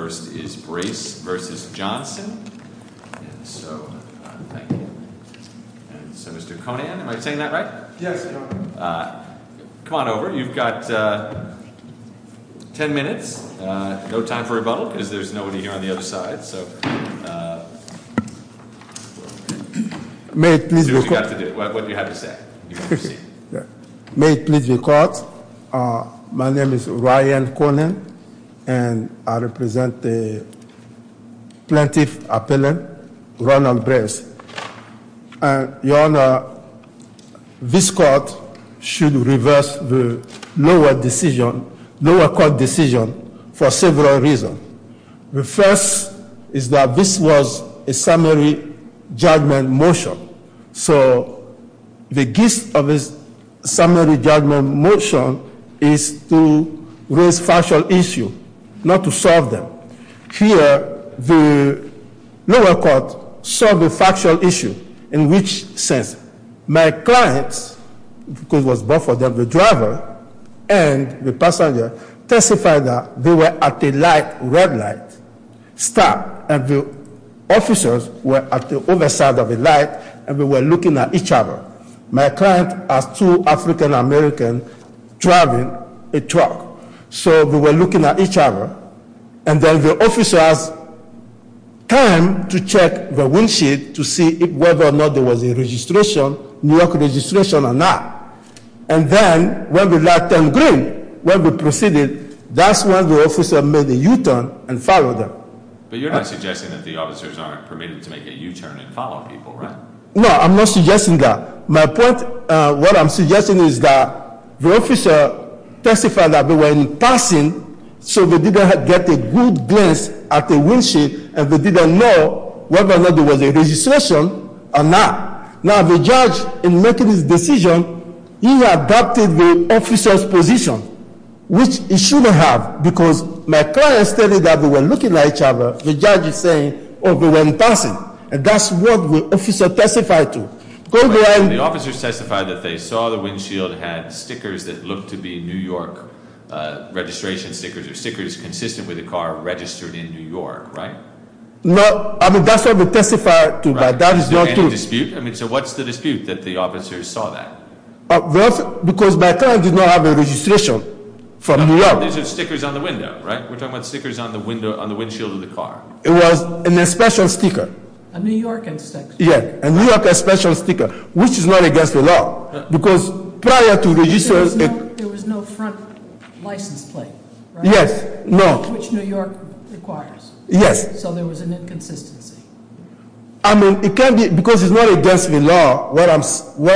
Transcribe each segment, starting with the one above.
May it please be caught, my name is Ryan Conan and I represent the United States Army. Plaintiff Appellant, Ronald Brace. Your Honor, this court should reverse the lower decision, lower court decision for several reasons. The first is that this was a summary judgment motion, so the gist of this summary judgment motion is to raise factual issue, not to solve them. Here the lower court saw the factual issue in which sense. My clients, because it was both of them, the driver and the passenger testified that they were at a light, red light stop and the officers were at the other side of the light and they were looking at each other. My client asked two African Americans driving a truck, so they were looking at each other. And then the officers came to check the windshield to see whether or not there was a registration, New York registration or not. And then when we left them green, when we proceeded, that's when the officer made a U-turn and followed them. But you're not suggesting that the officers aren't permitted to make a U-turn and follow people, right? No, I'm not suggesting that. My point, what I'm suggesting is that the officer testified that they were in passing, so they didn't get a good glance at the windshield and they didn't know whether or not there was a registration or not. Now the judge, in making his decision, he adopted the officer's position, which he shouldn't have, because my client stated that they were looking at each other. The judge is saying, oh, they were in passing. And that's what the officer testified to. The officers testified that they saw the windshield had stickers that looked to be New York registration stickers, or stickers consistent with a car registered in New York, right? No, I mean, that's what they testified to, but that is not true. Right, is there any dispute? I mean, so what's the dispute that the officers saw that? Because my client did not have a registration from New York. No, no, these are stickers on the window, right? We're talking about stickers on the windshield of the car. It was an inspection sticker. A New York inspection sticker. Yeah, a New York inspection sticker, which is not against the law, because prior to registration- There was no front license plate, right? Yes, no. Which New York requires. Yes. So there was an inconsistency. I mean, it can be, because it's not against the law. What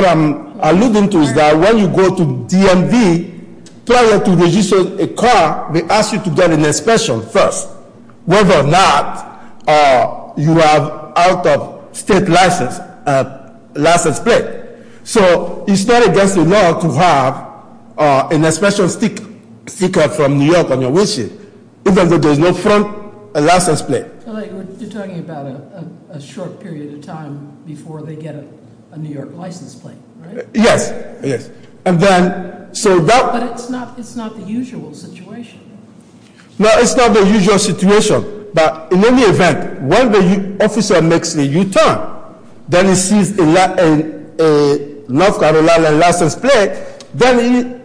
I'm alluding to is that when you go to DMV, prior to registering a car, they ask you to get an inspection first, whether or not you have out-of-state license plate. So it's not against the law to have an inspection sticker from New York on your windshield, even if there's no front license plate. You're talking about a short period of time before they get a New York license plate, right? Yes, yes. But it's not the usual situation. No, it's not the usual situation. But in any event, when the officer makes a U-turn, then he sees a North Carolina license plate, then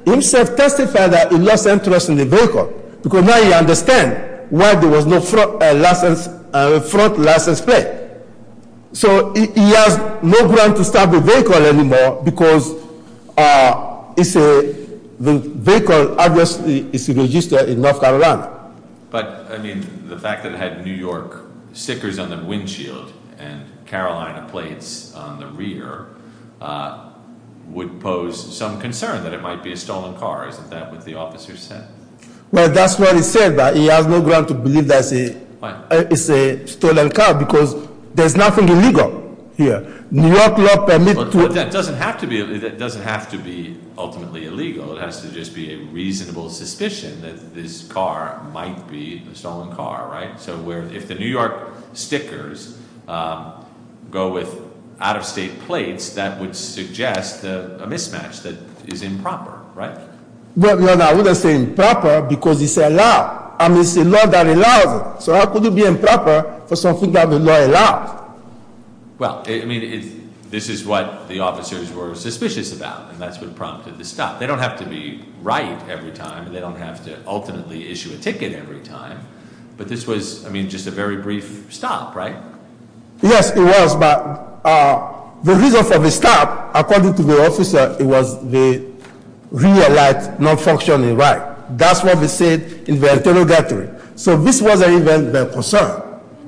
he himself testifies that he lost interest in the vehicle. Because now he understands why there was no front license plate. So he has no ground to stop the vehicle anymore because the vehicle, obviously, is registered in North Carolina. But, I mean, the fact that it had New York stickers on the windshield and Carolina plates on the rear would pose some concern that it might be a stolen car. Isn't that what the officer said? Well, that's what he said, that he has no ground to believe that it's a stolen car because there's nothing illegal here. New York law permits to- But that doesn't have to be ultimately illegal. It has to just be a reasonable suspicion that this car might be a stolen car, right? So if the New York stickers go with out-of-state plates, that would suggest a mismatch that is improper, right? No, no, I wouldn't say improper because it's a law. I mean, it's a law that allows it. So how could it be improper for something that the law allows? Well, I mean, this is what the officers were suspicious about, and that's what prompted the stop. They don't have to be right every time. They don't have to ultimately issue a ticket every time. But this was, I mean, just a very brief stop, right? Yes, it was, but the reason for the stop, according to the officer, it was the rear light not functioning right. That's what they said in the interrogatory. So this wasn't even their concern.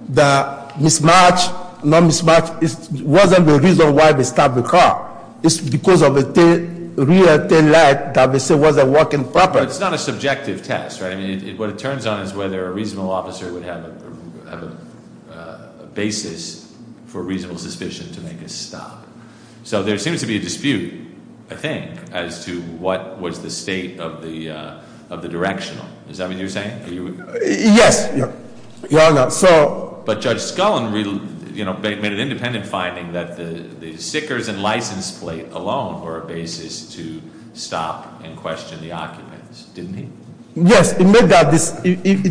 The mismatch, non-mismatch, wasn't the reason why they stopped the car. It's because of the rear taillight that they said wasn't working properly. No, it's not a subjective test, right? I mean, what it turns on is whether a reasonable officer would have a basis for reasonable suspicion to make a stop. So there seems to be a dispute, I think, as to what was the state of the directional. Is that what you're saying? Yes. But Judge Scullin made an independent finding that the stickers and license plate alone were a basis to stop and question the occupants, didn't he? Yes, it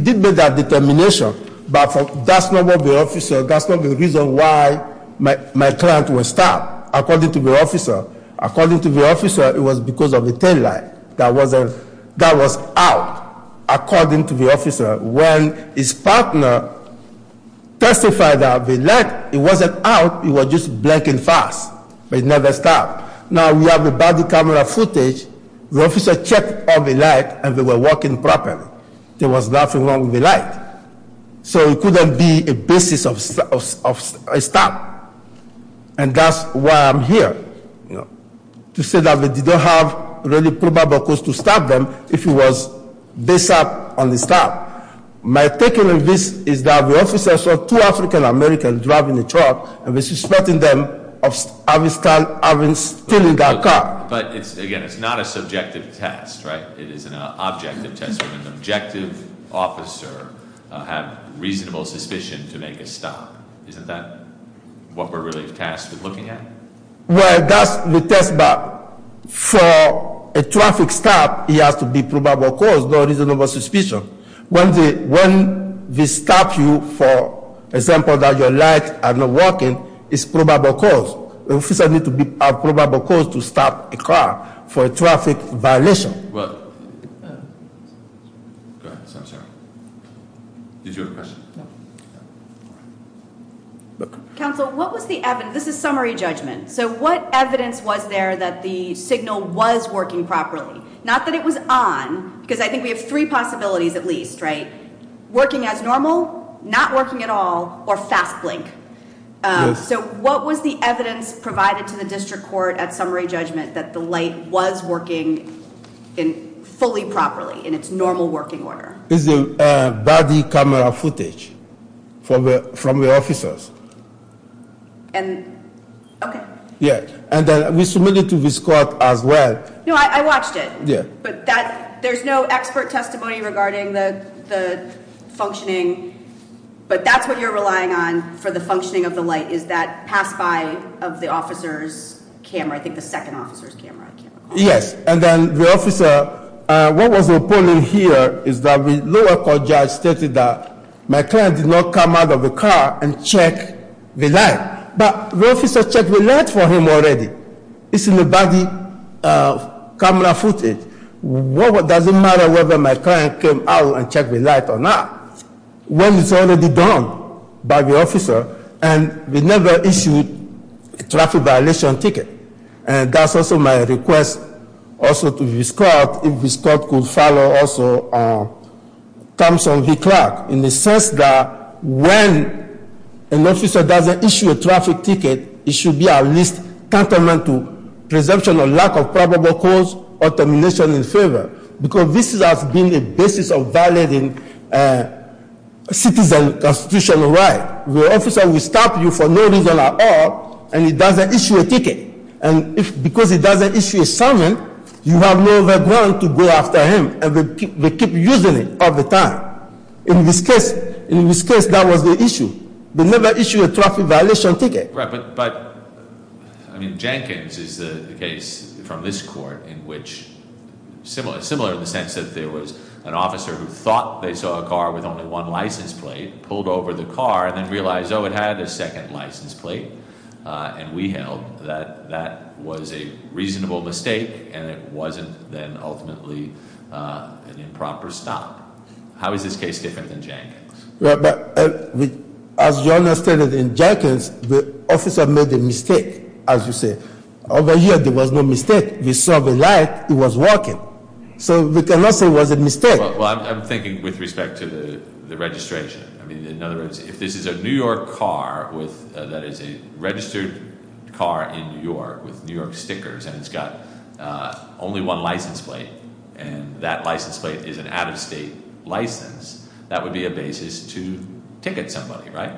did make that determination, but that's not the reason why my client was stopped, according to the officer. According to the officer, it was because of the taillight that was out, according to the officer. When his partner testified that the light, it wasn't out, it was just blinking fast, but it never stopped. Now, we have the body camera footage. The officer checked all the lights, and they were working properly. There was nothing wrong with the light. So it couldn't be a basis of a stop. And that's why I'm here, to say that we didn't have really probable cause to stop them if it was based on the stop. My taking of this is that the officer saw two African Americans driving a truck, and was suspecting them of having stolen their car. But, again, it's not a subjective test, right? It is an objective test. An objective officer has reasonable suspicion to make a stop. Isn't that what we're really tasked with looking at? Well, that's the test, but for a traffic stop, it has to be probable cause, not reasonable suspicion. When they stop you, for example, that your lights are not working, it's probable cause. The officer needs to have probable cause to stop a car for a traffic violation. Counsel, what was the evidence? This is summary judgment. So what evidence was there that the signal was working properly? Not that it was on, because I think we have three possibilities at least, right? Working as normal, not working at all, or fast blink. So what was the evidence provided to the district court at summary judgment that the light was working fully properly in its normal working order? It's the body camera footage from the officers. And we submitted to this court as well. No, I watched it. Yeah. There's no expert testimony regarding the functioning, but that's what you're relying on for the functioning of the light, is that pass-by of the officer's camera, I think the second officer's camera. Yes, and then the officer, what was reported here is that the lower court judge stated that my client did not come out of the car and check the light. But the officer checked the light for him already. It's in the body camera footage. It doesn't matter whether my client came out and checked the light or not, when it's already done by the officer, and we never issued a traffic violation ticket. And that's also my request also to this court, if this court could follow also Thompson v. Clark, in the sense that when an officer doesn't issue a traffic ticket, it should be at least tantamount to presumption of lack of probable cause or termination in favor, because this has been the basis of violating citizen constitutional rights, where an officer will stop you for no reason at all, and he doesn't issue a ticket. And because he doesn't issue a summons, you have no other ground to go after him, and they keep using it all the time. In this case, that was the issue. They never issued a traffic violation ticket. Right, but, I mean, Jenkins is the case from this court in which, similar in the sense that there was an officer who thought they saw a car with only one license plate, pulled over the car, and then realized, oh, it had a second license plate, and we held that that was a reasonable mistake, and it wasn't then ultimately an improper stop. How is this case different than Jenkins? Well, as you understand it, in Jenkins, the officer made a mistake, as you say. Over here, there was no mistake. We saw the light. It was working. So we cannot say it was a mistake. Well, I'm thinking with respect to the registration. I mean, in other words, if this is a New York car that is a registered car in New York with New York stickers, and it's got only one license plate, and that license plate is an out-of-state license, that would be a basis to ticket somebody, right?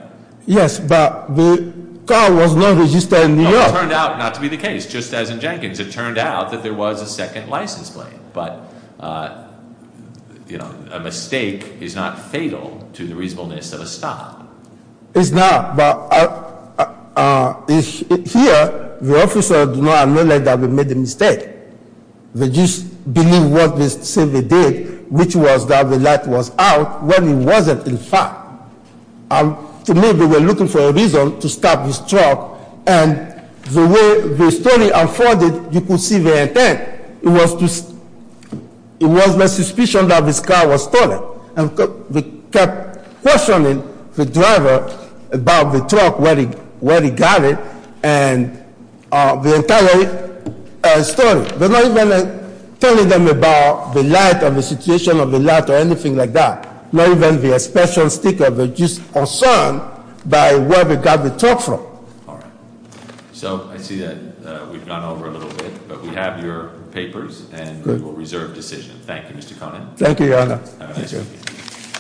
Yes, but the car was not registered in New York. Well, it turned out not to be the case, just as in Jenkins. It turned out that there was a second license plate, but a mistake is not fatal to the reasonableness of a stop. It's not, but here, the officer did not admit that they made a mistake. They just believed what they said they did, which was that the light was out when it wasn't in fact. To me, they were looking for a reason to stop this truck, and the way the story unfolded, you could see their intent. It was my suspicion that this car was stolen. And we kept questioning the driver about the truck, where he got it, and the entire story. But not even telling them about the light, or the situation of the light, or anything like that. Not even the special sticker, but just concerned by where they got the truck from. All right. So I see that we've gone over a little bit, but we have your papers, and we will reserve decision. Thank you, Mr. Conant. Thank you, Your Honor. Thank you.